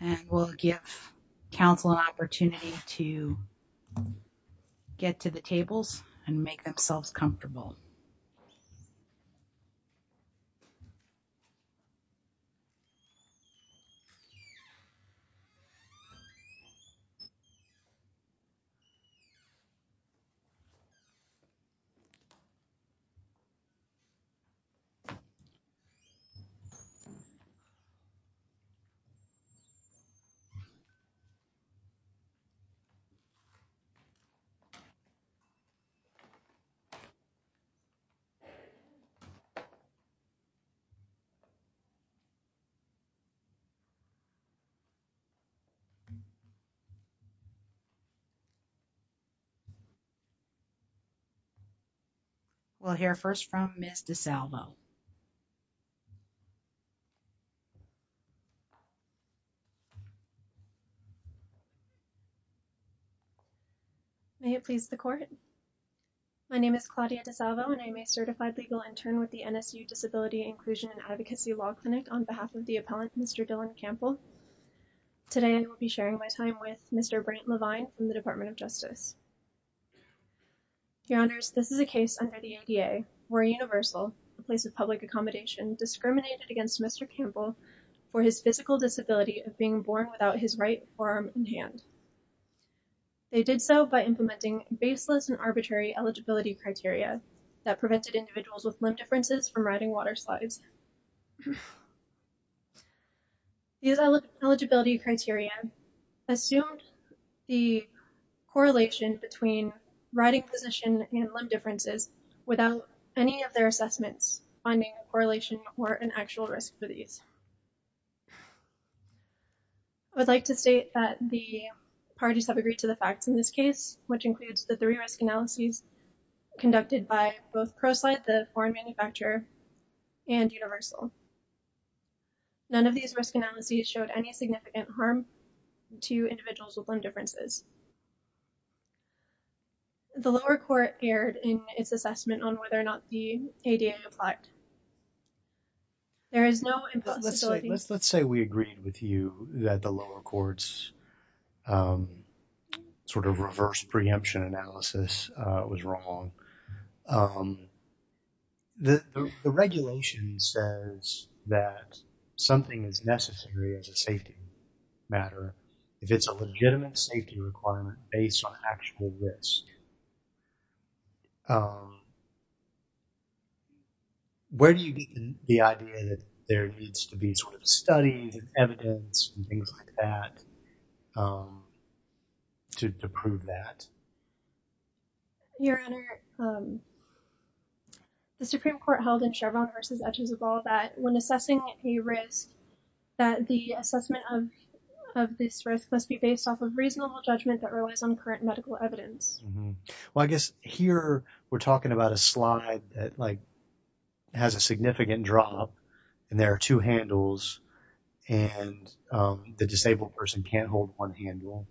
And we'll give Council an opportunity to get to the tables and make themselves comfortable. Thank you. Thank you. Thank you. Thank you. Thank you. We'll hear first from Miss DeSalvo. May it please the court. My name is Claudia DeSalvo and I'm a certified legal intern with the NSU Disability Inclusion and Advocacy Law Clinic on behalf of the appellant, Mr. Dylan Campbell. Today I will be sharing my time with Mr. Brent Levine from the Department of Justice. Your honors, this is a case under the ADA where Universal, a place of public accommodation, discriminated against Mr. Campbell for his physical disability of being born without his right forearm in hand. They did so by implementing baseless and arbitrary eligibility criteria that prevented individuals with limb differences from riding water slides. These eligibility criteria assumed the correlation between riding position and limb differences without any of their assessments finding a correlation or an actual risk for these. I would like to state that the parties have agreed to the facts in this case, which includes the three risk analyses conducted by both ProSlide, the foreign manufacturer, and Universal. None of these risk analyses showed any significant harm to individuals with limb differences. The lower court erred in its assessment on whether or not the ADA applied. There is no... Let's say we agreed with you that the lower court's sort of reverse preemption analysis was wrong. The regulation says that something is necessary as a safety matter if it's a legitimate safety requirement based on actual risk. Where do you get the idea that there needs to be sort of studies and evidence and things like that to prove that? Your Honor, the Supreme Court held in Chevron v. Edges of Ball that when assessing a risk, that the assessment of this risk must be based off of reasonable judgment that relies on current medical evidence. Well, I guess here we're talking about a slide that has a significant drop, and there are two handles, and the disabled person can't hold one handle.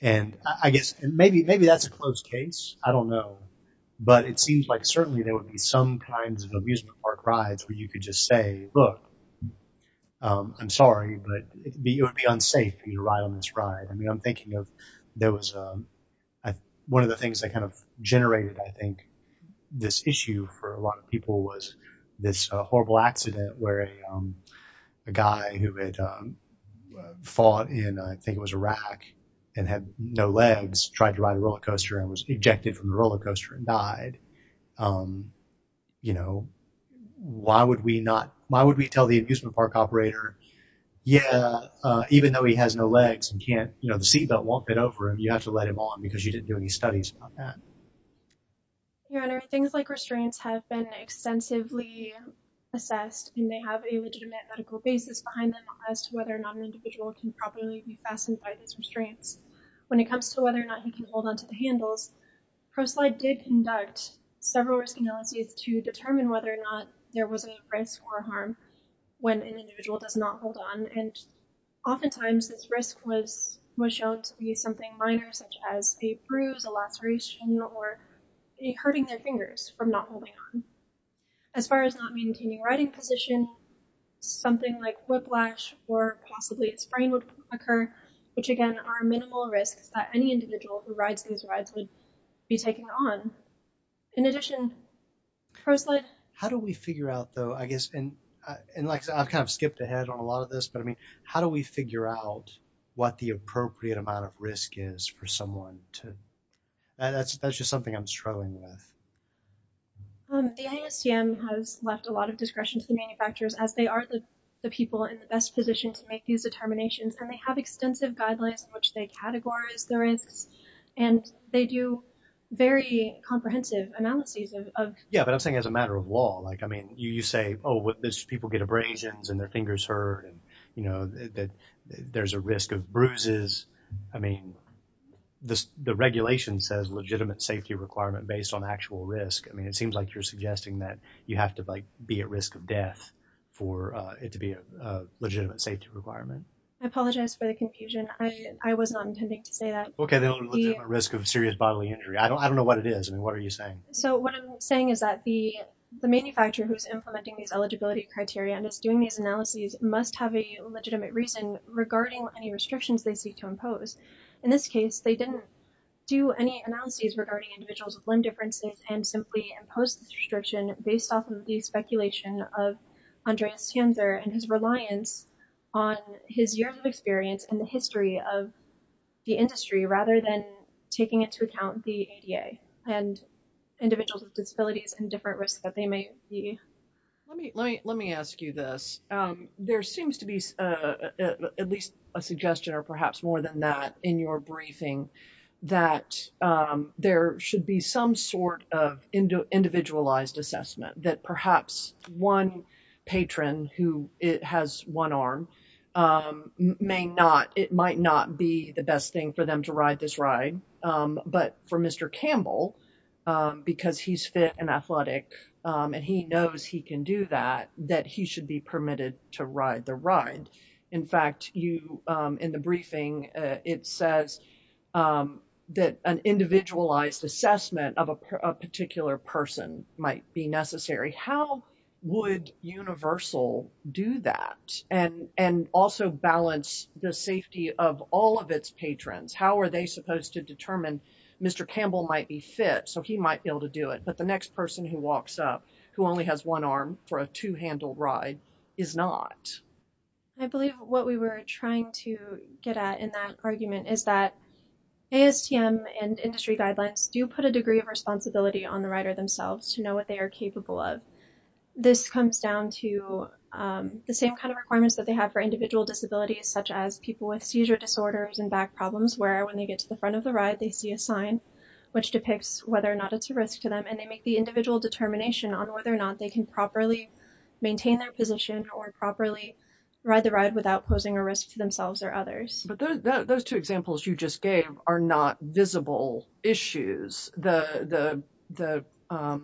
And I guess maybe that's a close case. I don't know. But it seems like certainly there would be some kinds of amusement park rides where you could just say, look, I'm sorry, but it would be unsafe for you to ride on this ride. One of the things that kind of generated, I think, this issue for a lot of people was this horrible accident where a guy who had fought in, I think it was Iraq, and had no legs tried to ride a roller coaster and was ejected from the roller coaster and died. You know, why would we not, why would we tell the amusement park operator, yeah, even though he has no legs and can't, you know, the seatbelt won't fit over him, you have to let him on because you didn't do any studies on that. Your Honor, things like restraints have been extensively assessed, and they have a legitimate medical basis behind them as to whether or not an individual can properly be fastened by these restraints. When it comes to whether or not he can hold on to the handles, ProSlide did conduct several risk analyses to determine whether or not there was a risk or harm when an individual does not hold on. And oftentimes this risk was shown to be something minor such as a bruise, a laceration, or hurting their fingers from not holding on. As far as not maintaining riding position, something like whiplash or possibly a sprain would occur, which again are minimal risks that any individual who rides these rides would be taking on. In addition, ProSlide... How do we figure out though, I guess, and like I've kind of skipped ahead on a lot of this, but I mean, how do we figure out what the appropriate amount of risk is for someone to... That's just something I'm struggling with. The ASTM has left a lot of discretion to the manufacturers as they are the people in the best position to make these determinations. And they have extensive guidelines in which they categorize the risks, and they do very comprehensive analyses of... Yeah, but I'm saying as a matter of law, like, I mean, you say, oh, people get abrasions and their fingers hurt and, you know, that there's a risk of bruises. I mean, the regulation says legitimate safety requirement based on actual risk. I mean, it seems like you're suggesting that you have to like be at risk of death for it to be a legitimate safety requirement. I apologize for the confusion. I was not intending to say that. Okay, the only legitimate risk of serious bodily injury. I don't know what it is. I mean, what are you saying? So what I'm saying is that the manufacturer who's implementing these eligibility criteria and is doing these analyses must have a legitimate reason regarding any restrictions they seek to impose. In this case, they didn't do any analyses regarding individuals with limb differences and simply imposed this restriction based off of the speculation of Andreas Tjanser and his reliance on his years of experience and the history of the industry rather than taking into account the ADA. And individuals with disabilities and different risks that they may be. Let me ask you this. There seems to be at least a suggestion or perhaps more than that in your briefing that there should be some sort of individualized assessment that perhaps one patron who has one arm may not, it might not be the best thing for them to ride this ride. But for Mr. Campbell, because he's fit and athletic and he knows he can do that, that he should be permitted to ride the ride. In fact, in the briefing, it says that an individualized assessment of a particular person might be necessary. How would Universal do that and also balance the safety of all of its patrons? How are they supposed to determine Mr. Campbell might be fit so he might be able to do it? But the next person who walks up who only has one arm for a two-handle ride is not. I believe what we were trying to get at in that argument is that ASTM and industry guidelines do put a degree of responsibility on the rider themselves to know what they are capable of. This comes down to the same kind of requirements that they have for individual disabilities, such as people with seizure disorders and back problems where when they get to the front of the ride, they see a sign which depicts whether or not it's a risk to them and they make the individual determination on whether or not they can properly maintain their position or properly ride the ride without posing a risk to themselves or others. Those two examples you just gave are not visible issues. The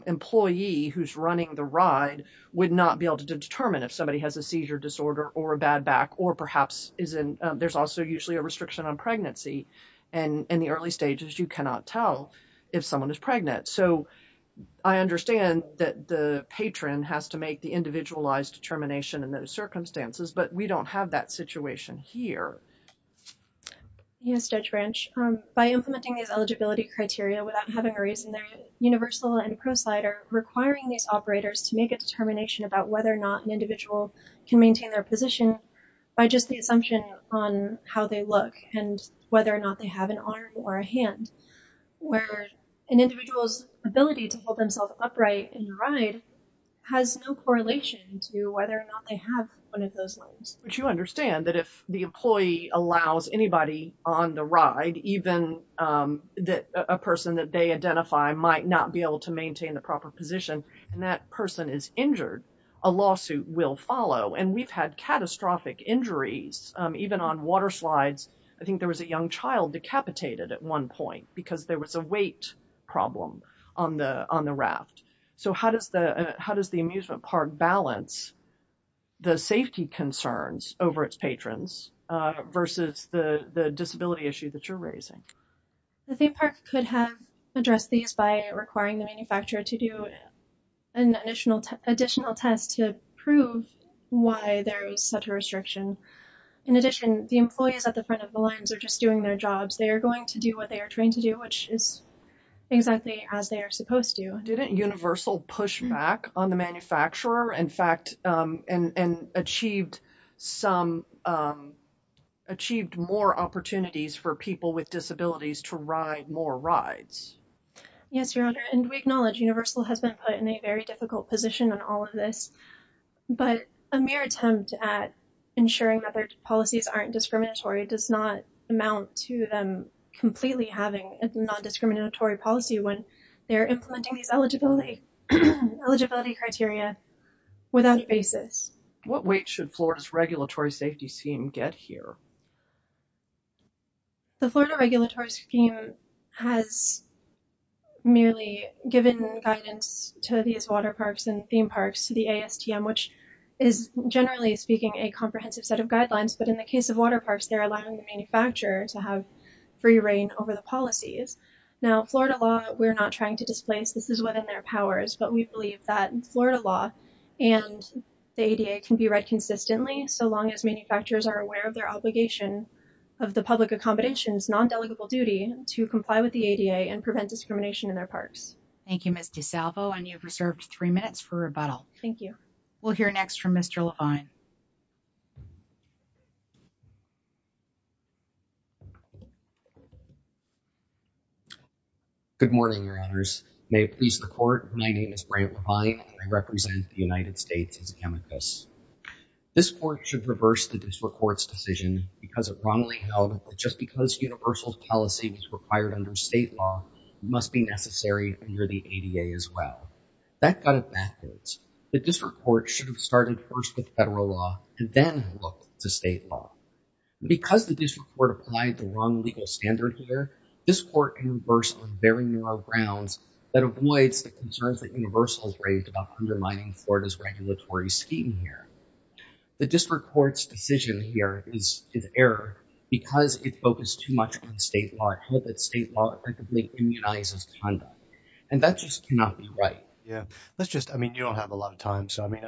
employee who's running the ride would not be able to determine if somebody has a seizure disorder or a bad back or perhaps there's also usually a restriction on pregnancy. In the early stages, you cannot tell if someone is pregnant. I understand that the patron has to make the individualized determination in those circumstances, but we don't have that situation here. Yes, Judge Branch. By implementing these eligibility criteria without having a reason, Universal and ProSlide are requiring these operators to make a determination about whether or not an individual can maintain their position by just the assumption on how they look and whether or not they have an arm or a hand, where an individual's ability to hold themselves upright in the ride has no correlation to whether or not they have one of those lines. But you understand that if the employee allows anybody on the ride, even a person that they identify might not be able to maintain the proper position and that person is injured, a lawsuit will follow. And we've had catastrophic injuries, even on water slides. I think there was a young child decapitated at one point because there was a weight problem on the raft. So how does the amusement park balance the safety concerns over its patrons versus the disability issue that you're raising? I think the park could have addressed these by requiring the manufacturer to do an additional test to prove why there is such a restriction. In addition, the employees at the front of the lines are just doing their jobs. They are going to do what they are trained to do, which is exactly as they are supposed to. Didn't Universal push back on the manufacturer and achieved more opportunities for people with disabilities to ride more rides? Yes, Your Honor. And we acknowledge Universal has been put in a very difficult position on all of this. But a mere attempt at ensuring that their policies aren't discriminatory does not amount to them completely having a non-discriminatory policy when they're implementing these eligibility criteria without a basis. What weight should Florida's regulatory safety scheme get here? The Florida regulatory scheme has merely given guidance to these water parks and theme parks to the ASTM, which is generally speaking a comprehensive set of guidelines. But in the case of water parks, they're allowing the manufacturer to have free reign over the policies. Now, Florida law, we're not trying to displace. This is within their powers. But we believe that Florida law and the ADA can be read consistently so long as manufacturers are aware of their obligation of the public accommodations, non-delegable duty to comply with the ADA and prevent discrimination in their parks. Thank you, Ms. DeSalvo. And you've reserved three minutes for rebuttal. Thank you. We'll hear next from Mr. Levine. Good morning, your honors. May it please the court. My name is Brent Levine. I represent the United States as an amicus. This court should reverse the district court's decision because it wrongly held that just because universal policy is required under state law, it must be necessary under the ADA as well. That got it backwards. The district court should have started first with federal law and then looked to state law. Because the district court applied the wrong legal standard here, this court can reverse on very narrow grounds that avoids the concerns that universal has raised about undermining Florida's regulatory scheme here. The district court's decision here is error because it focused too much on state law and held that state law effectively immunizes conduct. And that just cannot be right. Yeah. Let's just, I mean, you don't have a lot of time. So, I mean,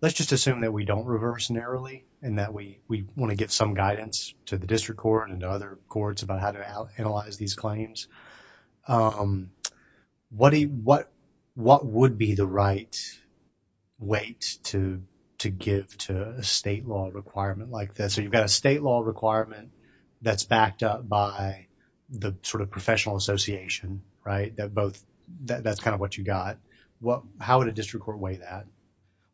let's just assume that we don't reverse narrowly and that we want to get some guidance to the district court and to other courts about how to analyze these claims. What would be the right weight to give to a state law requirement like this? So, you've got a state law requirement that's backed up by the sort of professional association, right, that both, that's kind of what you got. How would a district court weigh that?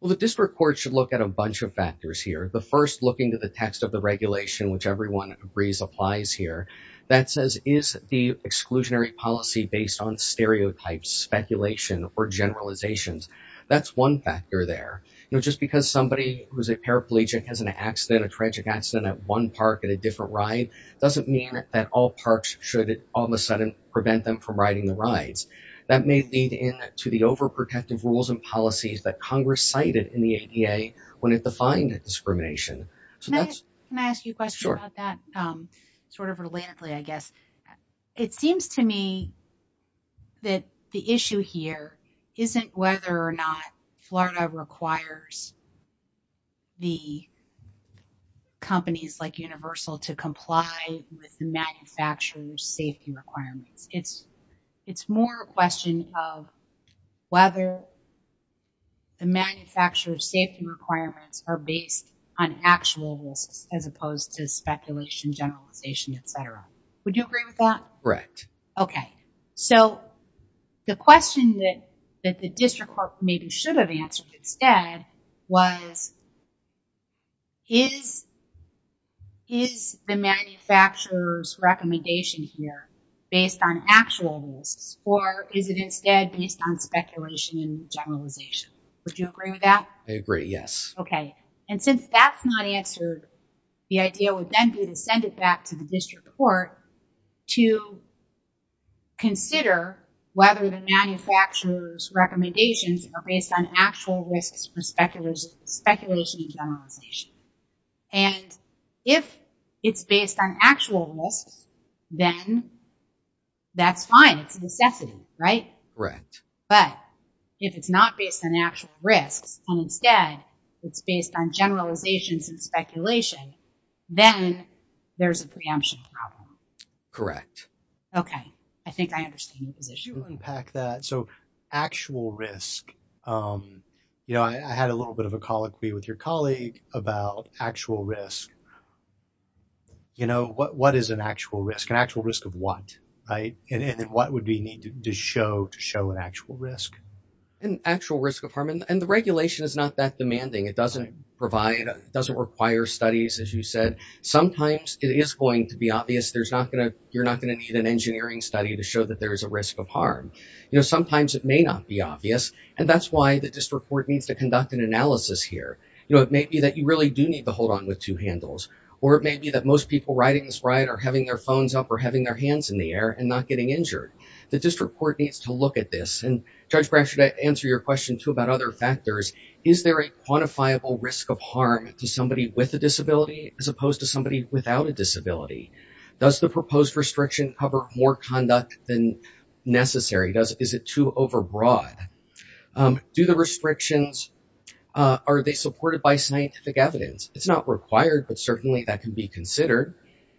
Well, the district court should look at a bunch of factors here. The first, looking to the text of the regulation, which everyone agrees applies here, that says, is the exclusionary policy based on stereotypes, speculation, or generalizations? That's one factor there. You know, just because somebody who's a paraplegic has an accident, a tragic accident at one park at a different ride, doesn't mean that all parks should all of a sudden prevent them from riding the rides. That may lead in to the overprotective rules and policies that Congress cited in the ADA when it defined discrimination. Can I ask you a question about that sort of relatedly, I guess? It seems to me that the issue here isn't whether or not Florida requires the companies like Universal to comply with the manufacturer's safety requirements. It's more a question of whether the manufacturer's safety requirements are based on actual risks as opposed to speculation, generalization, etc. Would you agree with that? Correct. So, the question that the district court maybe should have answered instead was, is the manufacturer's recommendation here based on actual risks or is it instead based on speculation and generalization? Would you agree with that? I agree, yes. Okay. And since that's not answered, the idea would then be to send it back to the district court to consider whether the manufacturer's recommendations are based on actual risks or speculation and generalization. And if it's based on actual risks, then that's fine. It's a necessity, right? Right. But if it's not based on actual risks and instead it's based on generalizations and speculation, then there's a preemption problem. Correct. Okay. I think I understand the position. So, actual risk. I had a little bit of a colloquy with your colleague about actual risk. What is an actual risk? An actual risk of what? And then what would we need to show to show an actual risk? An actual risk of harm. And the regulation is not that demanding. It doesn't require studies, as you said. Sometimes it is going to be obvious. You're not going to need an engineering study to show that there is a risk of harm. Sometimes it may not be obvious, and that's why the district court needs to conduct an analysis here. It may be that you really do need to hold on with two handles, or it may be that most people riding this ride are having their phones up or having their hands in the air and not getting injured. The district court needs to look at this. And Judge Brasher, to answer your question too about other factors, is there a quantifiable risk of harm to somebody with a disability as opposed to somebody without a disability? Does the proposed restriction cover more conduct than necessary? Is it too overbroad? Do the restrictions, are they supported by scientific evidence? It's not required, but certainly that can be considered.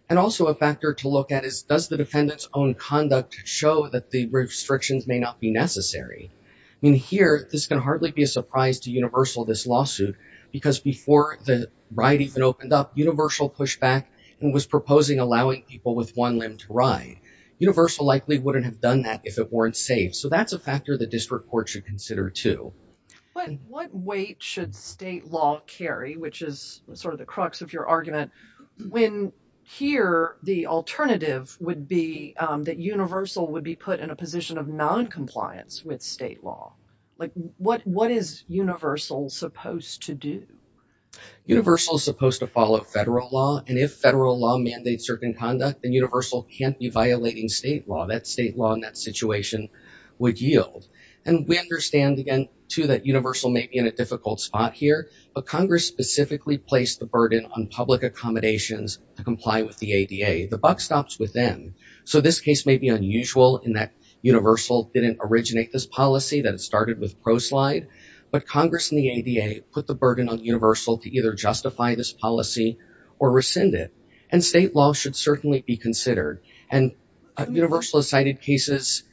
And also a factor to look at is does the defendant's own conduct show that the restrictions may not be necessary? I mean, here, this can hardly be a surprise to Universal, this lawsuit, because before the ride even opened up, Universal pushed back and was proposing allowing people with one limb to ride. Universal likely wouldn't have done that if it weren't safe. So that's a factor the district court should consider too. What weight should state law carry, which is sort of the crux of your argument, when here the alternative would be that Universal would be put in a position of noncompliance with state law? What is Universal supposed to do? Universal is supposed to follow federal law. And if federal law mandates certain conduct, then Universal can't be violating state law. That state law in that situation would yield. And we understand, again, too, that Universal may be in a difficult spot here, but Congress specifically placed the burden on public accommodations to comply with the ADA. The buck stops with them. So this case may be unusual in that Universal didn't originate this policy, that it started with ProSlide. But Congress and the ADA put the burden on Universal to either justify this policy or rescind it. And state law should certainly be considered. And Universal has cited cases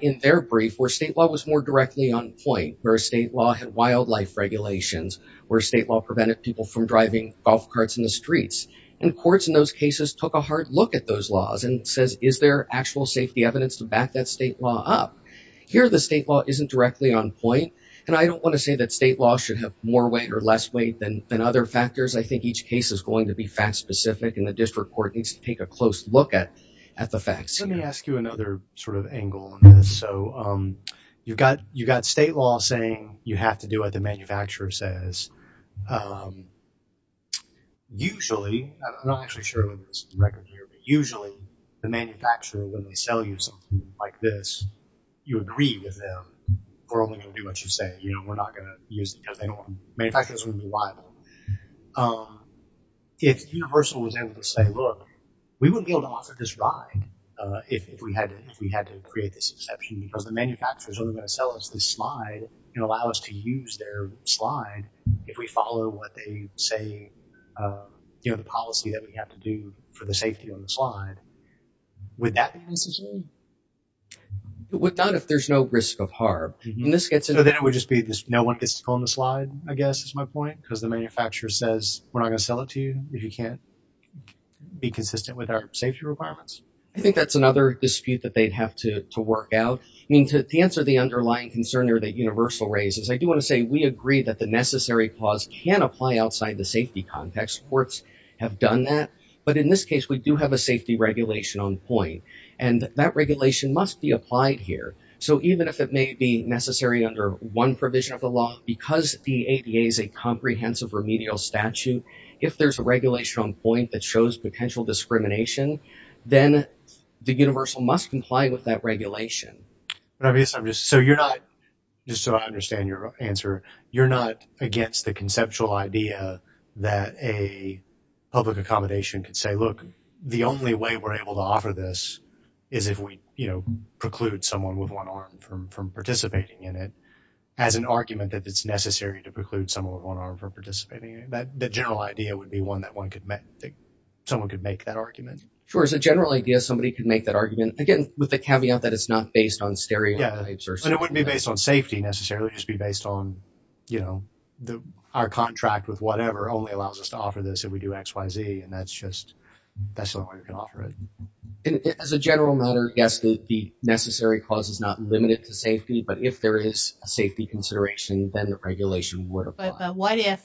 in their brief where state law was more directly on point, where state law had wildlife regulations, where state law prevented people from driving golf carts in the streets. And courts in those cases took a hard look at those laws and says, is there actual safety evidence to back that state law up? Here, the state law isn't directly on point. And I don't want to say that state law should have more weight or less weight than other factors. I think each case is going to be fact specific, and the district court needs to take a close look at the facts. Let me ask you another sort of angle on this. So you've got state law saying you have to do what the manufacturer says. Usually, I'm not actually sure what this record here, but usually the manufacturer, when they sell you something like this, you agree with them. We're only going to do what you say. You know, we're not going to use it because manufacturers wouldn't be liable. If Universal was able to say, look, we wouldn't be able to offer this ride if we had to create this exception because the manufacturer is only going to sell us this slide and allow us to use their slide if we follow what they say, you know, the policy that we have to do for the safety of the slide. Would that be necessary? But what about if there's no risk of harm? So then it would just be no one gets to own the slide, I guess, is my point, because the manufacturer says we're not going to sell it to you if you can't be consistent with our safety requirements. I think that's another dispute that they'd have to work out. I mean, to answer the underlying concern there that Universal raises, I do want to say we agree that the necessary clause can apply outside the safety context. But in this case, we do have a safety regulation on point, and that regulation must be applied here. So even if it may be necessary under one provision of the law, because the ADA is a comprehensive remedial statute, if there's a regulation on point that shows potential discrimination, then the Universal must comply with that regulation. So you're not, just so I understand your answer, you're not against the conceptual idea that a public accommodation could say, look, the only way we're able to offer this is if we, you know, preclude someone with one arm from participating in it, as an argument that it's necessary to preclude someone with one arm from participating in it. The general idea would be one that someone could make that argument. Sure, as a general idea, somebody could make that argument, again, with the caveat that it's not based on stereotypes or something. Yeah, and it wouldn't be based on safety necessarily, it would just be based on, you know, our contract with whatever only allows us to offer this if we do X, Y, Z, and that's just, that's the only way we can offer it. As a general matter, yes, the necessary clause is not limited to safety, but if there is a safety consideration, then the regulation would apply. But what if,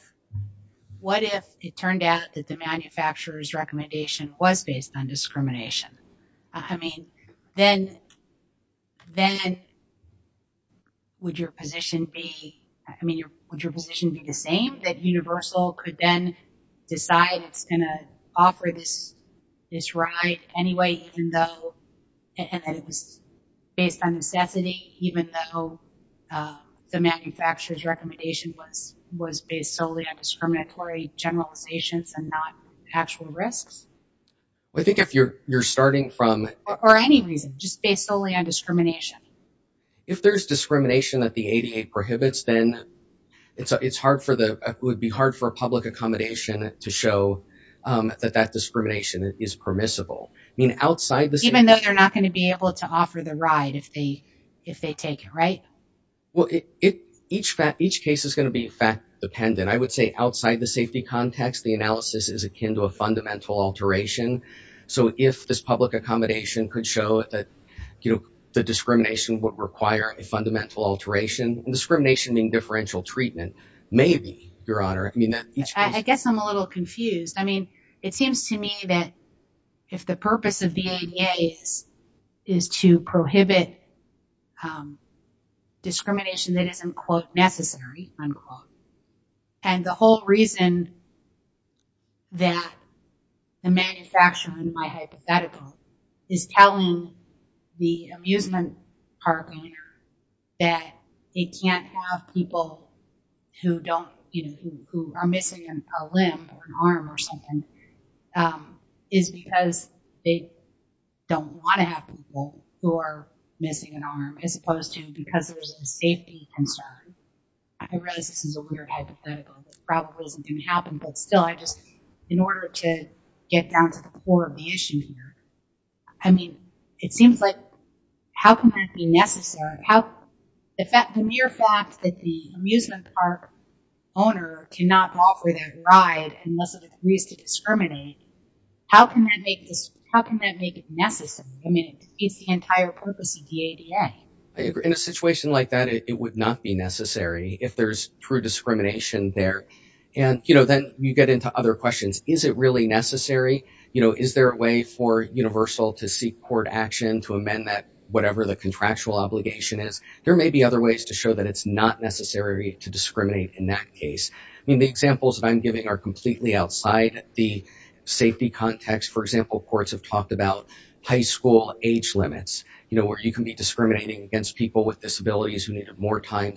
what if it turned out that the manufacturer's recommendation was based on discrimination? I mean, then, then would your position be, I mean, would your position be the same, that Universal could then decide it's going to offer this ride anyway, even though, and that it was based on necessity, even though the manufacturer's recommendation was based solely on discriminatory generalizations and not actual risks? I think if you're, you're starting from... Or any reason, just based solely on discrimination. If there's discrimination that the ADA prohibits, then it's, it's hard for the, it would be hard for a public accommodation to show that that discrimination is permissible. I mean, outside the... Even though they're not going to be able to offer the ride if they, if they take it, right? Well, it, it, each fact, each case is going to be fact dependent. I would say outside the safety context, the analysis is akin to a fundamental alteration. So if this public accommodation could show that, you know, the discrimination would require a fundamental alteration, and discrimination being differential treatment, maybe, Your Honor, I mean that... Discrimination that isn't, quote, necessary, unquote. And the whole reason that the manufacturer, in my hypothetical, is telling the amusement park owner that they can't have people who don't, you know, who are missing a limb or an arm or something is because they don't want to have people who are missing an arm, as opposed to because there's a safety concern. I realize this is a weird hypothetical that probably isn't going to happen, but still, I just, in order to get down to the core of the issue here, I mean, it seems like, how can that be necessary? The mere fact that the amusement park owner cannot offer that ride unless it agrees to discriminate, how can that make this, how can that make it necessary? I mean, it defeats the entire purpose of the ADA. I agree. In a situation like that, it would not be necessary if there's true discrimination there. And, you know, then you get into other questions. Is it really necessary? You know, is there a way for Universal to seek court action to amend that, whatever the contractual obligation is? There may be other ways to show that it's not necessary to discriminate in that case. I mean, the examples that I'm giving are completely outside the safety context. For example, courts have talked about high school age limits, you know, where you can be discriminating against people with disabilities who needed more time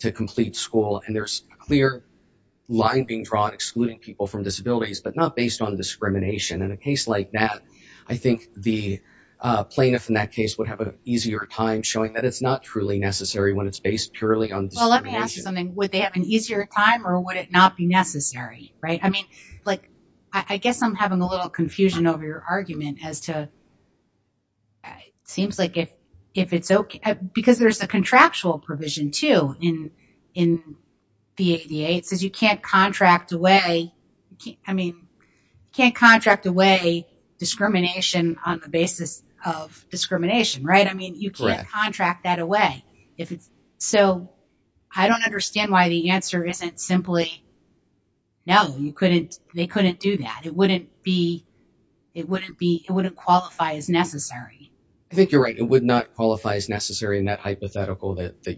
to complete school. And there's a clear line being drawn excluding people from disabilities, but not based on discrimination. In a case like that, I think the plaintiff in that case would have an easier time showing that it's not truly necessary when it's based purely on discrimination. Well, let me ask you something. Would they have an easier time, or would it not be necessary, right? I mean, like, I guess I'm having a little confusion over your argument as to, it seems like if it's okay, because there's a contractual provision, too, in the ADA. It says you can't contract away, I mean, you can't contract away discrimination on the basis of discrimination, right? I mean, you can't contract that away. So, I don't understand why the answer isn't simply, no, they couldn't do that. It wouldn't qualify as necessary. I think you're right. It would not qualify as necessary in that hypothetical that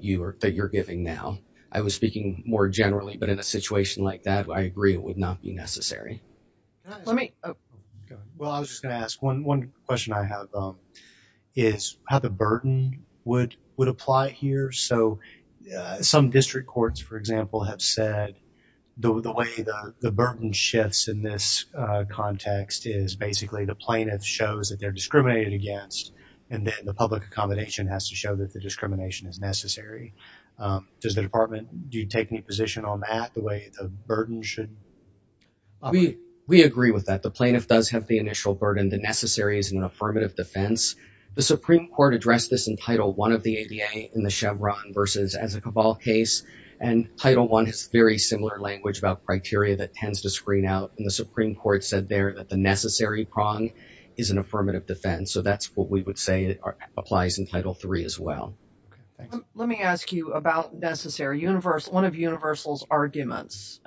you're giving now. I was speaking more generally, but in a situation like that, I agree it would not be necessary. Well, I was just going to ask, one question I have is how the burden would apply here. So, some district courts, for example, have said the way the burden shifts in this context is basically the plaintiff shows that they're discriminated against, and then the public accommodation has to show that the discrimination is necessary. Does the Department, do you take any position on that, the way the burden should apply? We agree with that. The plaintiff does have the initial burden. The necessary is an affirmative defense. The Supreme Court addressed this in Title I of the ADA in the Chevron versus Ezekiel Ball case, and Title I has very similar language about criteria that tends to screen out, and the Supreme Court said there that the necessary prong is an affirmative defense. So, that's what we would say applies in Title III as well. Let me ask you about necessary. One of Universal's arguments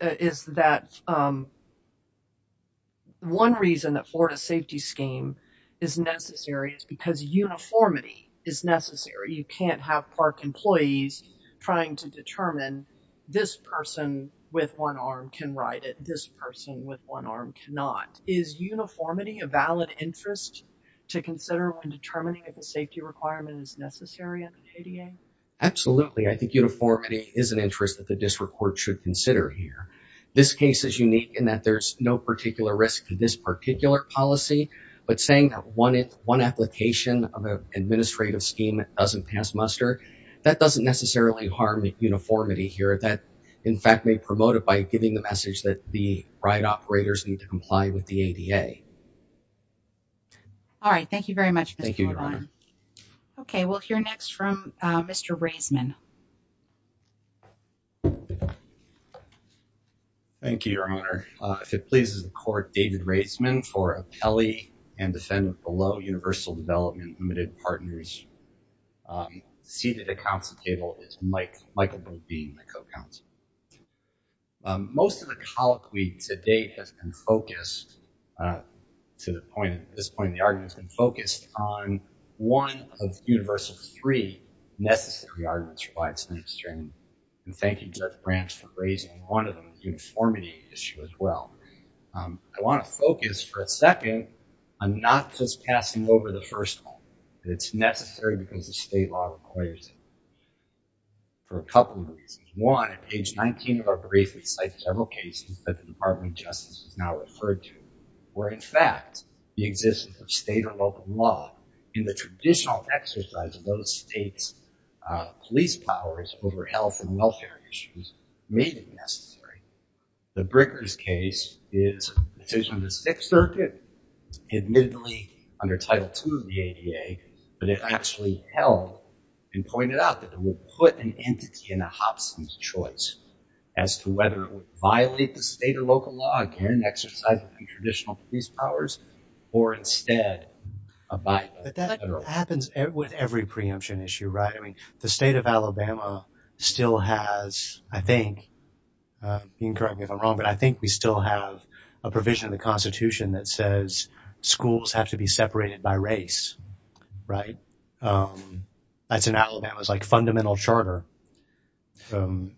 is that one reason that Florida's safety scheme is necessary is because uniformity is necessary. You can't have park employees trying to determine this person with one arm can ride it, this person with one arm cannot. Is uniformity a valid interest to consider when determining if a safety requirement is necessary under the ADA? Absolutely. I think uniformity is an interest that the district court should consider here. This case is unique in that there's no particular risk to this particular policy, but saying that one application of an administrative scheme doesn't pass muster, that doesn't necessarily harm uniformity here. That, in fact, may promote it by giving the message that the ride operators need to comply with the ADA. All right. Thank you very much, Mr. LeBlanc. Thank you, Your Honor. Okay. We'll hear next from Mr. Raisman. Thank you, Your Honor. If it pleases the court, David Raisman for appellee and defendant below Universal Development Limited Partners. Seated at council table is Michael Boone, being the co-counsel. Most of the colloquy to date has been focused, to this point in the argument, has been focused on one of Universal's three necessary arguments for why it's necessary. And thank you, Judge Branch, for raising one of them, the uniformity issue as well. I want to focus for a second on not just passing over the first one. It's necessary because the state law requires it for a couple of reasons. One, at page 19 of our brief, we cite several cases that the Department of Justice has now referred to where, in fact, the existence of state or local law in the traditional exercise of those states' police powers over health and welfare issues made it necessary. The Brickers case is a decision of the Sixth Circuit, admittedly under Title II of the ADA, but it actually held and pointed out that it would put an entity in a Hobson's choice as to whether it would violate the state or local law again in exercise of the traditional police powers or instead abide by the federal law. But that happens with every preemption issue, right? I mean, the state of Alabama still has, I think, you can correct me if I'm wrong, but I think we still have a provision in the Constitution that says schools have to be separated by race, right? That's in Alabama. It's like a fundamental charter. We don't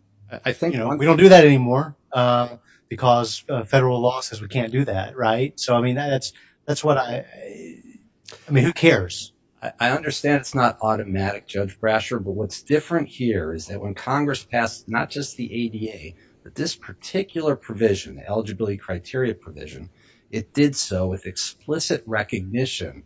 do that anymore because federal law says we can't do that, right? So, I mean, that's what I – I mean, who cares? I understand it's not automatic, Judge Brasher, but what's different here is that when Congress passed not just the ADA, but this particular provision, the eligibility criteria provision, it did so with explicit recognition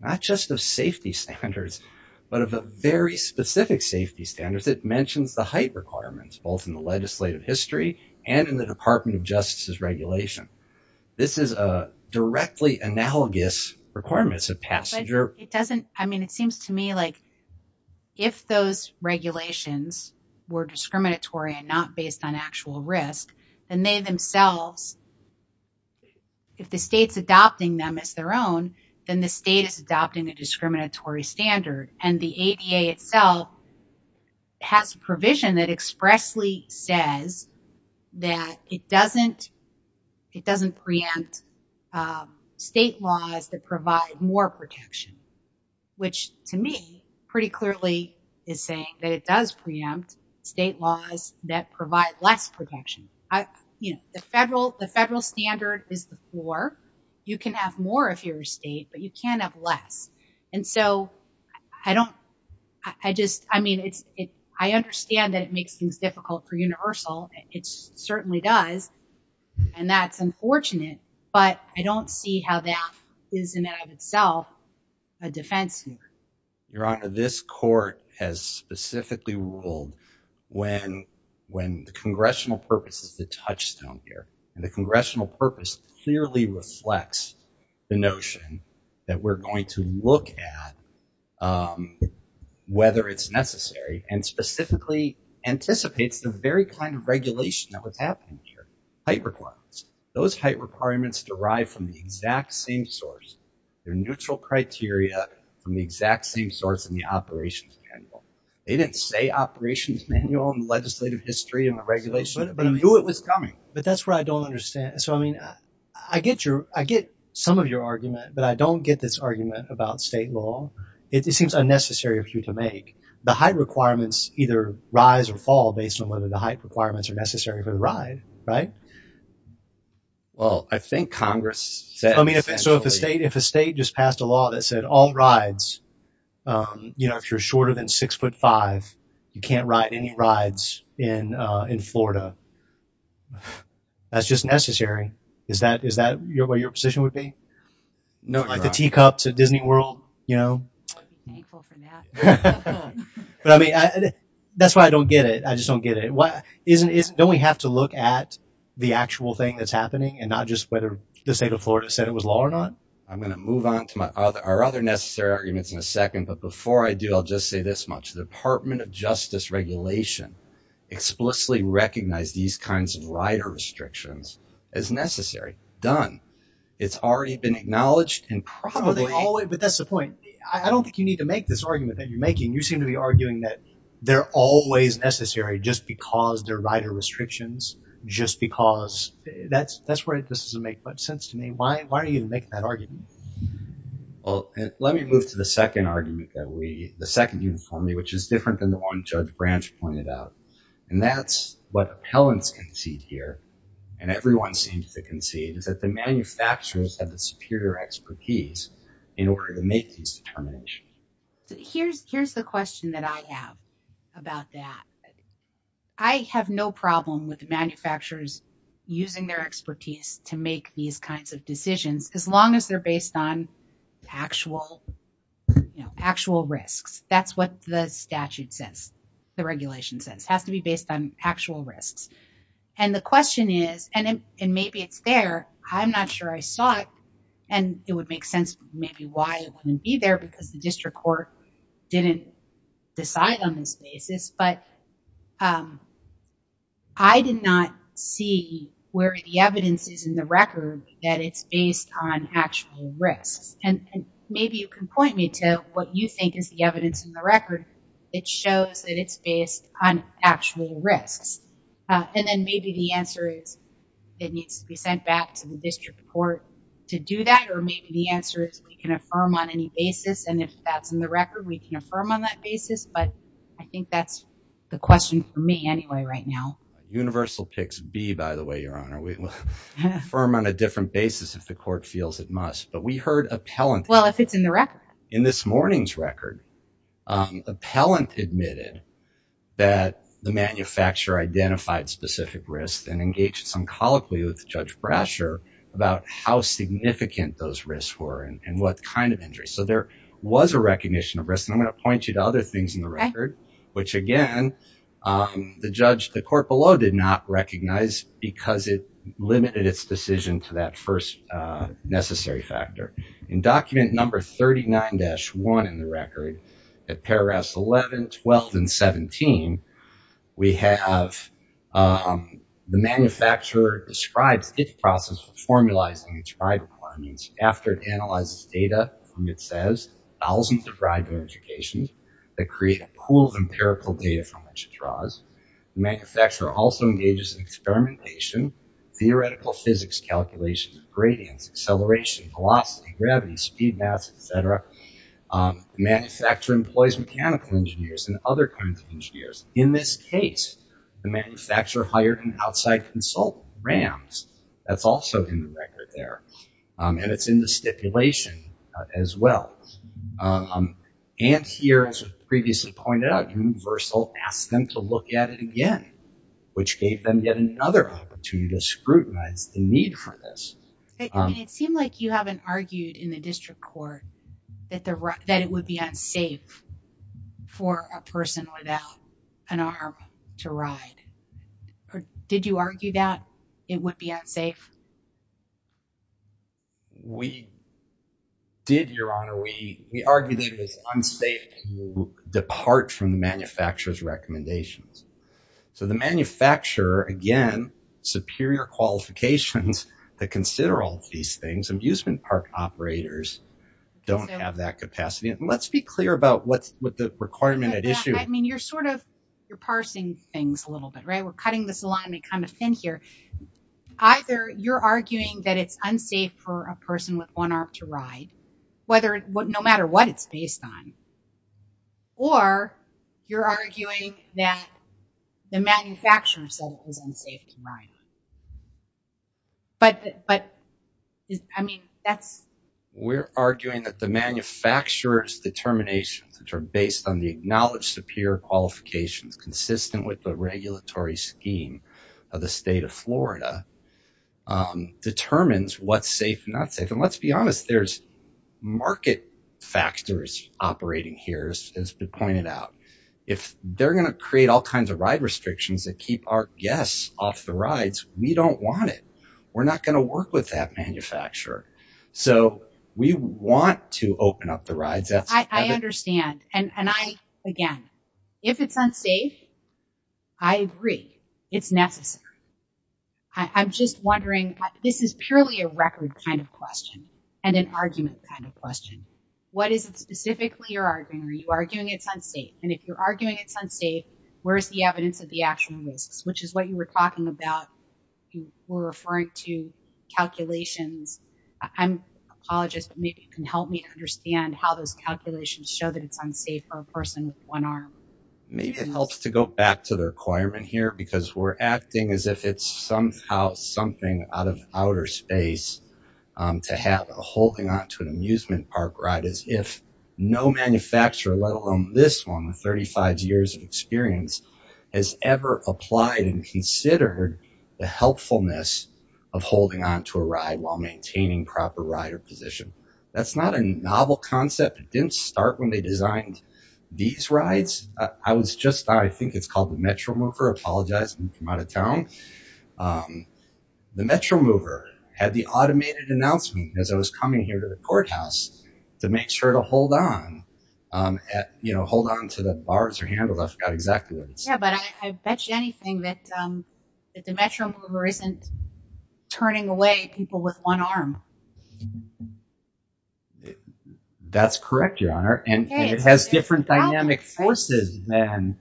not just of safety standards, but of a very specific safety standard that mentions the height requirements, both in the legislative history and in the Department of Justice's regulation. This is a directly analogous requirement. But it doesn't – I mean, it seems to me like if those regulations were discriminatory and not based on actual risk, then they themselves – if the state's adopting them as their own, then the state is adopting a discriminatory standard, and the ADA itself has a provision that expressly says that it doesn't preempt state laws that provide more protection, which to me pretty clearly is saying that it does preempt state laws that provide less protection. You know, the federal standard is the floor. You can have more if you're a state, but you can't have less. And so I don't – I just – I mean, I understand that it makes things difficult for universal. It certainly does, and that's unfortunate. But I don't see how that is in and of itself a defense here. Your Honor, this court has specifically ruled when the congressional purpose is the touchstone here, and the congressional purpose clearly reflects the notion that we're going to look at whether it's necessary and specifically anticipates the very kind of regulation that was happening here, height requirements. Those height requirements derive from the exact same source. They're neutral criteria from the exact same source in the operations manual. They didn't say operations manual in the legislative history in the regulation. But I knew it was coming. But that's what I don't understand. So, I mean, I get your – I get some of your argument, but I don't get this argument about state law. It seems unnecessary of you to make. The height requirements either rise or fall based on whether the height requirements are necessary for the ride, right? Well, I think Congress said essentially – I mean, so if a state just passed a law that said all rides, you know, if you're shorter than 6'5", you can't ride any rides in Florida, that's just necessary. Is that where your position would be? No, Your Honor. Like the teacups at Disney World, you know? I'd be thankful for that. But, I mean, that's why I don't get it. I just don't get it. Don't we have to look at the actual thing that's happening and not just whether the state of Florida said it was law or not? I'm going to move on to our other necessary arguments in a second. But before I do, I'll just say this much. The Department of Justice regulation explicitly recognized these kinds of rider restrictions as necessary. Done. It's already been acknowledged and probably – But that's the point. I don't think you need to make this argument that you're making. You seem to be arguing that they're always necessary just because they're rider restrictions, just because. That's where this doesn't make much sense to me. Why are you making that argument? Well, let me move to the second argument that we – the second uniformly, which is different than the one Judge Branch pointed out. And that's what appellants concede here, and everyone seems to concede, is that the manufacturers have the superior expertise in order to make these determinations. Here's the question that I have about that. I have no problem with manufacturers using their expertise to make these kinds of decisions as long as they're based on actual risks. That's what the statute says, the regulation says. It has to be based on actual risks. And the question is – and maybe it's there. I'm not sure I saw it. And it would make sense maybe why it wouldn't be there because the district court didn't decide on this basis. But I did not see where the evidence is in the record that it's based on actual risks. And maybe you can point me to what you think is the evidence in the record that shows that it's based on actual risks. And then maybe the answer is it needs to be sent back to the district court to do that. Or maybe the answer is we can affirm on any basis. And if that's in the record, we can affirm on that basis. But I think that's the question for me anyway right now. Universal picks B, by the way, Your Honor. Affirm on a different basis if the court feels it must. But we heard appellants – Well, if it's in the record. In this morning's record, appellant admitted that the manufacturer identified specific risks and engaged some colloquy with Judge Brasher about how significant those risks were and what kind of injuries. So there was a recognition of risk. And I'm going to point you to other things in the record, which, again, the court below did not recognize because it limited its decision to that first necessary factor. In document number 39-1 in the record, at paragraphs 11, 12, and 17, we have the manufacturer describes its process of formulizing its ride requirements after it analyzes data from, it says, thousands of ride modifications that create a pool of empirical data from which it draws. The manufacturer also engages in experimentation, theoretical physics calculations, gradients, acceleration, velocity, gravity, speed maps, et cetera. The manufacturer employs mechanical engineers and other kinds of engineers. In this case, the manufacturer hired an outside consultant, Rams. That's also in the record there. And it's in the stipulation as well. And here, as was previously pointed out, Universal asked them to look at it again, which gave them yet another opportunity to scrutinize the need for this. It seemed like you haven't argued in the district court that it would be unsafe for a person without an arm to ride. Did you argue that it would be unsafe? We did, Your Honor. We argued that it was unsafe to depart from the manufacturer's recommendations. So the manufacturer, again, superior qualifications to consider all these things, amusement park operators don't have that capacity. And let's be clear about what the requirement at issue is. I mean, you're sort of parsing things a little bit, right? We're cutting this alignment kind of thin here. Either you're arguing that it's unsafe for a person with one arm to ride, no matter what it's based on, or you're arguing that the manufacturer said it was unsafe to ride. We're arguing that the manufacturer's determinations, which are based on the acknowledged superior qualifications, consistent with the regulatory scheme of the state of Florida, determines what's safe and not safe. And let's be honest, there's market factors operating here, as has been pointed out. If they're going to create all kinds of ride restrictions that keep our guests off the rides, we don't want it. We're not going to work with that manufacturer. So we want to open up the rides. I understand. And I, again, if it's unsafe, I agree. It's necessary. I'm just wondering, this is purely a record kind of question and an argument kind of question. What is it specifically you're arguing? Are you arguing it's unsafe? And if you're arguing it's unsafe, where's the evidence of the actual risks, which is what you were talking about? You were referring to calculations. I'm an apologist, but maybe you can help me to understand how those calculations show that it's unsafe for a person with one arm. Maybe it helps to go back to the requirement here, because we're acting as if it's somehow something out of outer space to have a holding on to an amusement park ride, as if no manufacturer, let alone this one with 35 years of experience, has ever applied and considered the helpfulness of holding on to a ride while maintaining proper rider position. That's not a novel concept. It didn't start when they designed these rides. I was just, I think it's called the Metro Mover. Apologize if I'm out of town. The Metro Mover had the automated announcement as I was coming here to the courthouse to make sure to hold on, you know, hold on to the bars or handle. I forgot exactly what it was. Yeah, but I bet you anything that the Metro Mover isn't turning away people with one arm. That's correct, Your Honor. And it has different dynamic forces than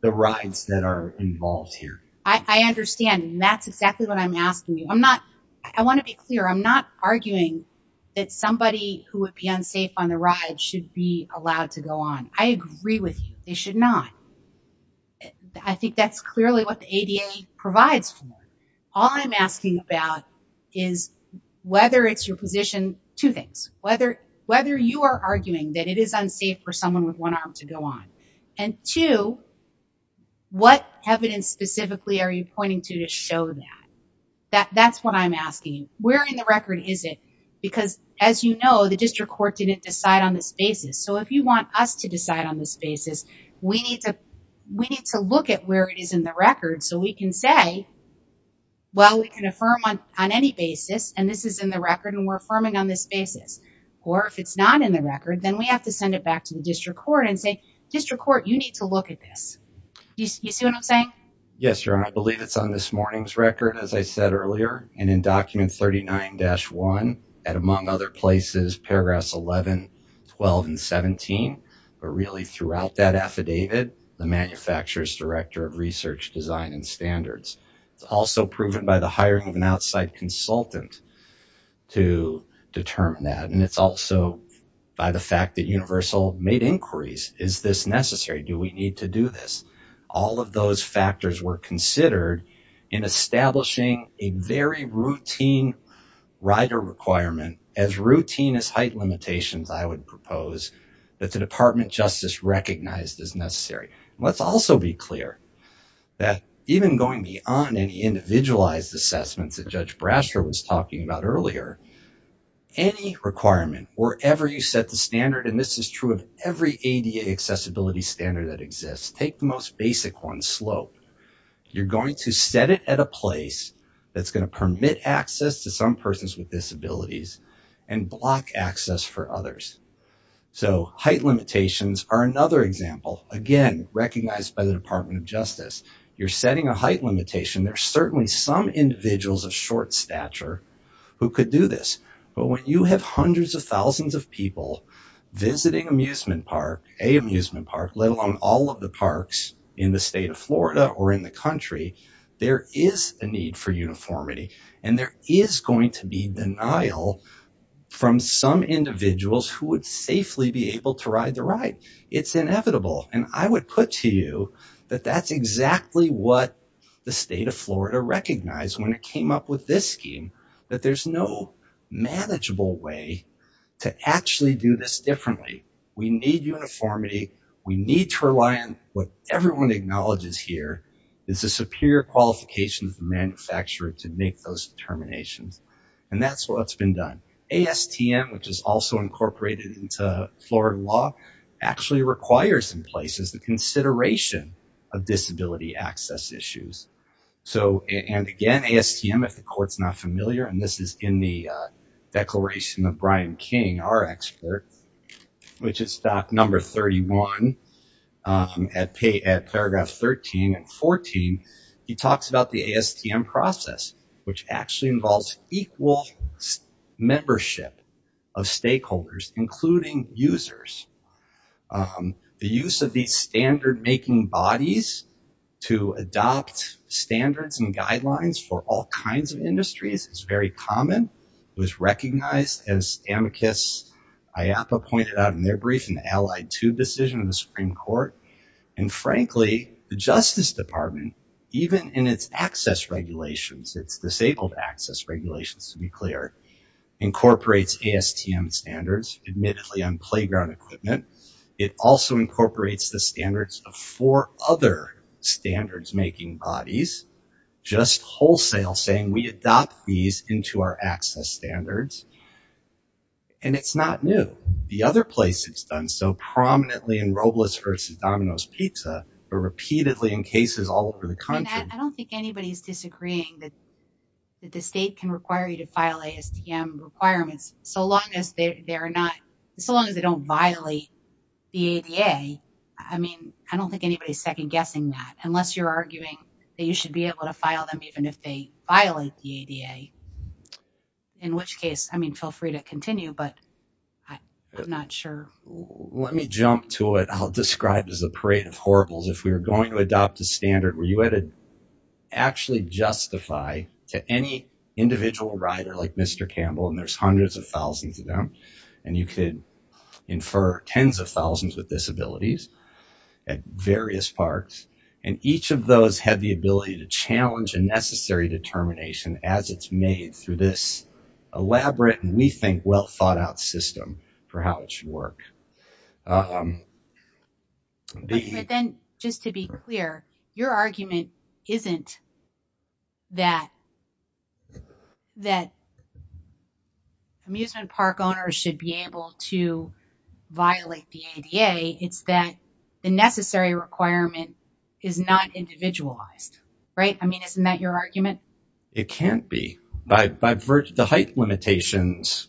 the rides that are involved here. I understand. And that's exactly what I'm asking you. I'm not, I want to be clear. I'm not arguing that somebody who would be unsafe on the ride should be allowed to go on. I agree with you. They should not. I think that's clearly what the ADA provides for. All I'm asking about is whether it's your position, two things. Whether you are arguing that it is unsafe for someone with one arm to go on. And two, what evidence specifically are you pointing to to show that? That's what I'm asking. Where in the record is it? Because as you know, the district court didn't decide on this basis. So if you want us to decide on this basis, we need to look at where it is in the record so we can say, well, we can affirm on any basis and this is in the record and we're affirming on this basis. Or if it's not in the record, then we have to send it back to the district court and say, district court, you need to look at this. You see what I'm saying? Yes, Your Honor. I believe it's on this morning's record, as I said earlier. And in document 39-1, and among other places, paragraphs 11, 12, and 17. But really throughout that affidavit, the manufacturer's director of research, design, and standards. It's also proven by the hiring of an outside consultant to determine that. And it's also by the fact that Universal made inquiries. Is this necessary? Do we need to do this? All of those factors were considered in establishing a very routine rider requirement, as routine as height limitations, I would propose, that the Department of Justice recognized as necessary. Let's also be clear that even going beyond any individualized assessments that Judge Brasher was talking about earlier, any requirement, wherever you set the standard, and this is true of every ADA accessibility standard that exists, take the most basic one, slope. You're going to set it at a place that's going to permit access to some persons with disabilities and block access for others. So height limitations are another example. Again, recognized by the Department of Justice. You're setting a height limitation. There are certainly some individuals of short stature who could do this. But when you have hundreds of thousands of people visiting amusement park, a amusement park, let alone all of the parks in the state of Florida or in the country, there is a need for uniformity. And there is going to be denial from some individuals who would safely be able to ride the ride. It's inevitable. And I would put to you that that's exactly what the state of Florida recognized when it came up with this scheme, that there's no manageable way to actually do this differently. We need uniformity. We need to rely on what everyone acknowledges here is a superior qualification of the manufacturer to make those determinations. And that's what's been done. ASTM, which is also incorporated into Florida law, actually requires in places the consideration of disability access issues. And, again, ASTM, if the court's not familiar, and this is in the declaration of Brian King, our expert, which is stock number 31 at paragraph 13 and 14, he talks about the ASTM process, which actually involves equal membership of stakeholders, including users. The use of these standard-making bodies to adopt standards and guidelines for all kinds of industries is very common. It was recognized, as amicus IAPA pointed out in their brief, in the Allied Tube decision in the Supreme Court. And, frankly, the Justice Department, even in its access regulations, its disabled access regulations, to be clear, incorporates ASTM standards, admittedly on playground equipment. It also incorporates the standards of four other standards-making bodies, just wholesale, saying we adopt these into our access standards. And it's not new. The other place it's done so, prominently in Robles v. Domino's Pizza, but repeatedly in cases all over the country. I don't think anybody's disagreeing that the state can require you to file ASTM requirements, so long as they don't violate the ADA. I mean, I don't think anybody's second-guessing that, unless you're arguing that you should be able to file them, even if they violate the ADA, in which case, I mean, feel free to continue, but I'm not sure. Let me jump to it. I'll describe it as a parade of horribles. If we were going to adopt a standard where you had to actually justify to any individual rider, like Mr. Campbell, and there's hundreds of thousands of them, and you could infer tens of thousands with disabilities at various parks, and each of those had the ability to challenge a necessary determination, as it's made through this elaborate and, we think, well-thought-out system, for how it should work. But then, just to be clear, your argument isn't that amusement park owners should be able to violate the ADA. It's that the necessary requirement is not individualized, right? I mean, isn't that your argument? It can't be. The height limitations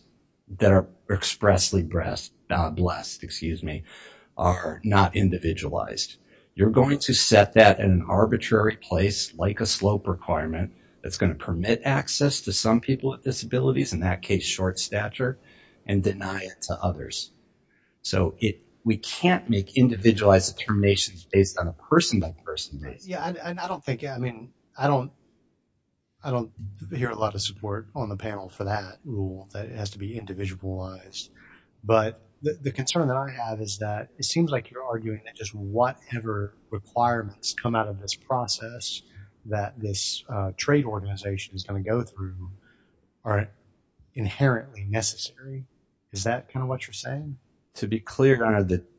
that are expressly blessed are not individualized. You're going to set that in an arbitrary place, like a slope requirement, that's going to permit access to some people with disabilities, in that case, short stature, and deny it to others. So, we can't make individualized determinations based on a person-by-person basis. I don't hear a lot of support on the panel for that rule, that it has to be individualized. But the concern that I have is that it seems like you're arguing that just whatever requirements come out of this process that this trade organization is going to go through are inherently necessary. Is that kind of what you're saying? To be clear,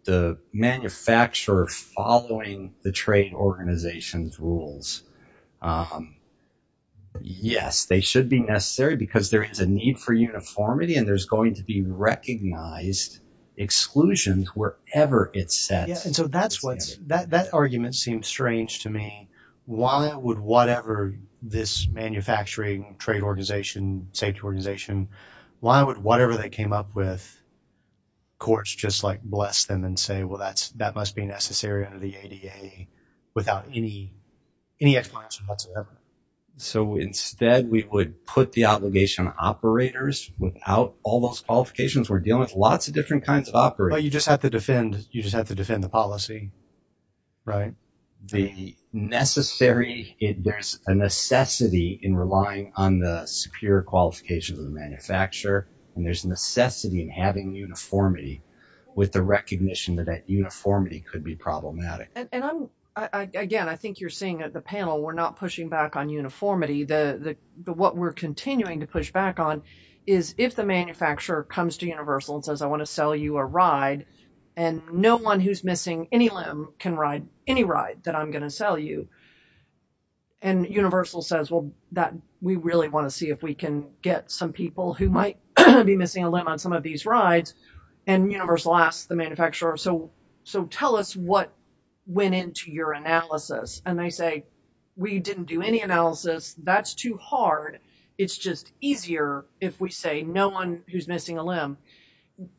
the manufacturer following the trade organization's rules, yes, they should be necessary because there is a need for uniformity and there's going to be recognized exclusions wherever it's set. So, that argument seems strange to me. Why would whatever this manufacturing trade organization, safety organization, why would whatever they came up with, courts just like bless them and say, well, that must be necessary under the ADA without any explanation whatsoever? So, instead, we would put the obligation on operators without all those qualifications. We're dealing with lots of different kinds of operators. But you just have to defend the policy, right? There's a necessity in relying on the superior qualifications of the manufacturer and there's necessity in having uniformity with the recognition that that uniformity could be problematic. Again, I think you're seeing at the panel, we're not pushing back on uniformity. What we're continuing to push back on is if the manufacturer comes to Universal and says, I want to sell you a ride and no one who's missing any limb can ride any ride that I'm going to sell you. And Universal says, well, we really want to see if we can get some people who might be missing a limb on some of these rides. And Universal asks the manufacturer, so tell us what went into your analysis. And they say, we didn't do any analysis. That's too hard. It's just easier if we say no one who's missing a limb.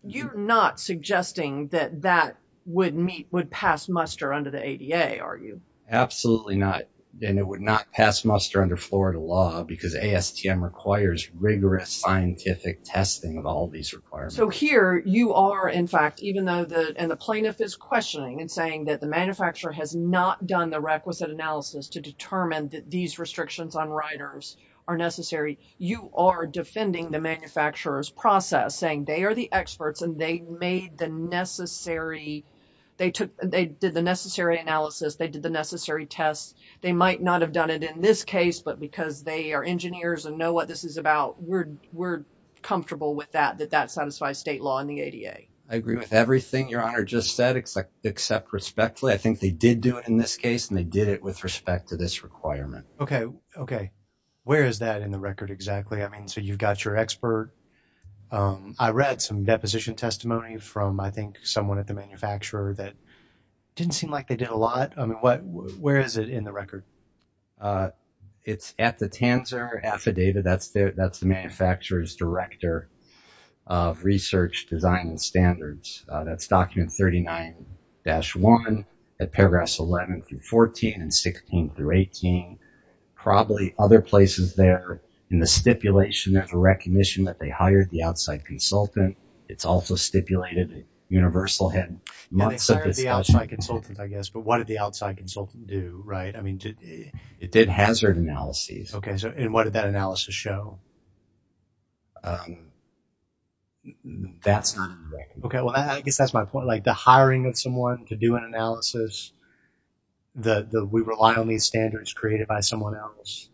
You're not suggesting that that would pass muster under the ADA, are you? Absolutely not. And it would not pass muster under Florida law because ASTM requires rigorous scientific testing of all these requirements. So here you are, in fact, even though the plaintiff is questioning and saying that the manufacturer has not done the requisite analysis to determine that these restrictions on riders are necessary, you are defending the manufacturer's process, saying they are the experts and they did the necessary analysis. They did the necessary tests. They might not have done it in this case, but because they are engineers and know what this is about, we're comfortable with that, that that satisfies state law and the ADA. I agree with everything Your Honor just said, except respectfully. I think they did do it in this case and they did it with respect to this requirement. Okay. Okay. Where is that in the record exactly? I mean, so you've got your expert. I read some deposition testimony from, I think, someone at the manufacturer that didn't seem like they did a lot. I mean, where is it in the record? It's at the Tanzer affidavit. That's the manufacturer's director of research, design, and standards. That's document 39-1 at paragraphs 11 through 14 and 16 through 18. Probably other places there in the stipulation, there's a recognition that they hired the outside consultant. It's also stipulated that Universal had months of this document. They hired the outside consultant, I guess, but what did the outside consultant do, right? I mean, it did hazard analyses. Okay. And what did that analysis show? That's not in the record. Okay. Well, I guess that's my point. Like the hiring of someone to do an analysis, that we rely on these standards created by someone else.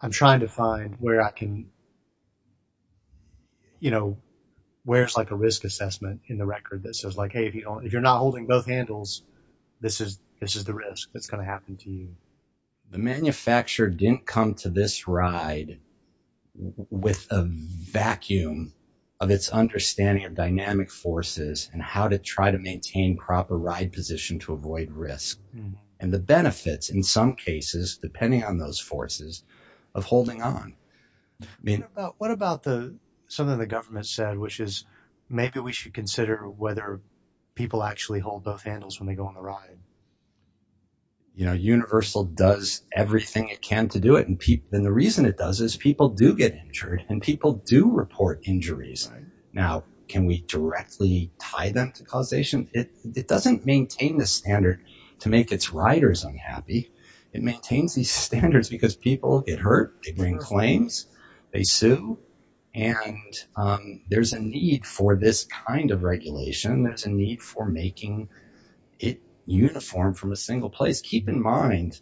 I'm trying to find where I can, you know, where it's like a risk assessment in the record that says like, hey, if you're not holding both handles, this is the risk that's going to happen to you. The manufacturer didn't come to this ride with a vacuum of its understanding of dynamic forces and how to try to maintain proper ride position to avoid risk. And the benefits, in some cases, depending on those forces, of holding on. What about something the government said, which is maybe we should consider whether people actually hold both handles when they go on the ride? You know, Universal does everything it can to do it. And the reason it does is people do get injured and people do report injuries. Now, can we directly tie them to causation? It doesn't maintain the standard to make its riders unhappy. It maintains these standards because people get hurt, they bring claims, they sue. And there's a need for this kind of regulation. There's a need for making it uniform from a single place. Keep in mind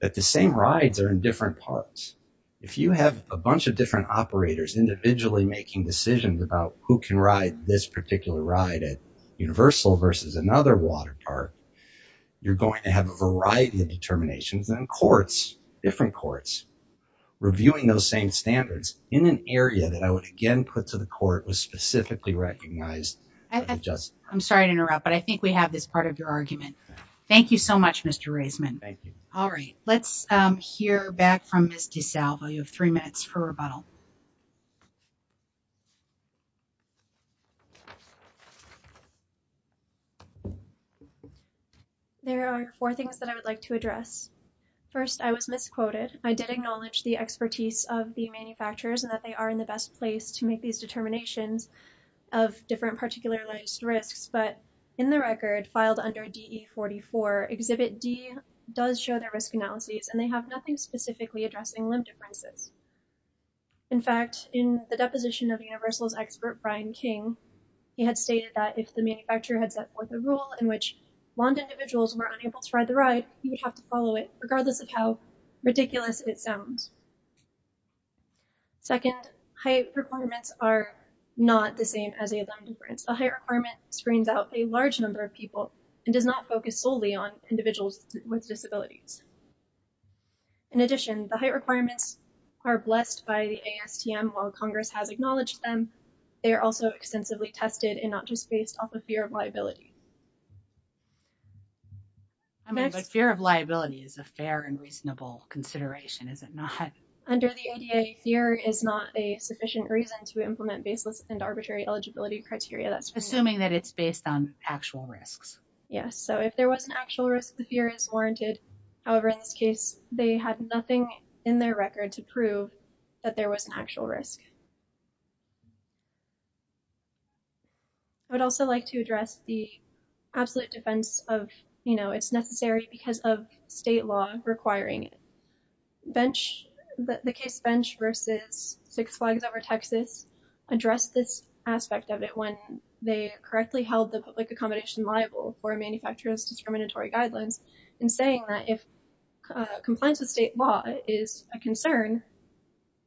that the same rides are in different parts. If you have a bunch of different operators individually making decisions about who can ride this particular ride at Universal versus another water park, you're going to have a variety of determinations. And courts, different courts, reviewing those same standards in an area that I would again put to the court that was specifically recognized. I'm sorry to interrupt, but I think we have this part of your argument. Thank you so much, Mr. Raisman. All right. Let's hear back from Ms. DeSalvo. You have three minutes for rebuttal. There are four things that I would like to address. First, I was misquoted. I did acknowledge the expertise of the manufacturers and that they are in the best place to make these determinations of different particularized risks. But in the record filed under DE44, Exhibit D does show their risk analyses, and they have nothing specifically addressing limb differences. In fact, in the deposition of Universal's expert Brian King, he had stated that if the manufacturer had set forth a rule in which blind individuals were unable to ride the ride, he would have to follow it, regardless of how ridiculous it sounds. Second, height requirements are not the same as a limb difference. A height requirement screens out a large number of people and does not focus solely on individuals with disabilities. In addition, the height requirements are blessed by the ASTM, while Congress has acknowledged them. They are also extensively tested and not just based off of fear of liability. I mean, but fear of liability is a fair and reasonable consideration, is it not? Under the ADA, fear is not a sufficient reason to implement baseless and arbitrary eligibility criteria. Assuming that it's based on actual risks. Yes, so if there was an actual risk, the fear is warranted. However, in this case, they had nothing in their record to prove that there was an actual risk. I would also like to address the absolute defense of, you know, it's necessary because of state law requiring it. Bench, the case bench versus Six Flags Over Texas addressed this aspect of it when they correctly held the public accommodation liable for manufacturers discriminatory guidelines and saying that if compliance with state law is a concern,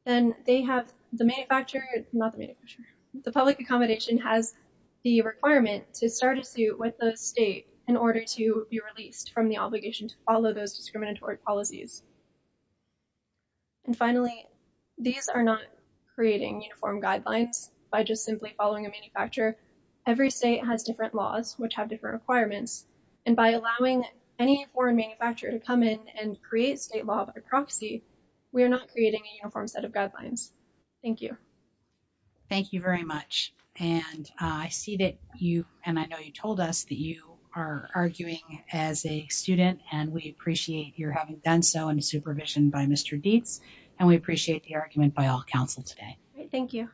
then they have the manufacturer, not the manufacturer, the public accommodation has the requirement to start a suit with the state in order to be released from the obligation to follow those discriminatory policies. And finally, these are not creating uniform guidelines by just simply following a manufacturer. Every state has different laws which have different requirements. And by allowing any foreign manufacturer to come in and create state law by proxy, we are not creating a uniform set of guidelines. Thank you. Thank you very much. And I see that you and I know you told us that you are arguing as a student and we appreciate your having done so in supervision by Mr. Dietz. And we appreciate the argument by all counsel today. Thank you.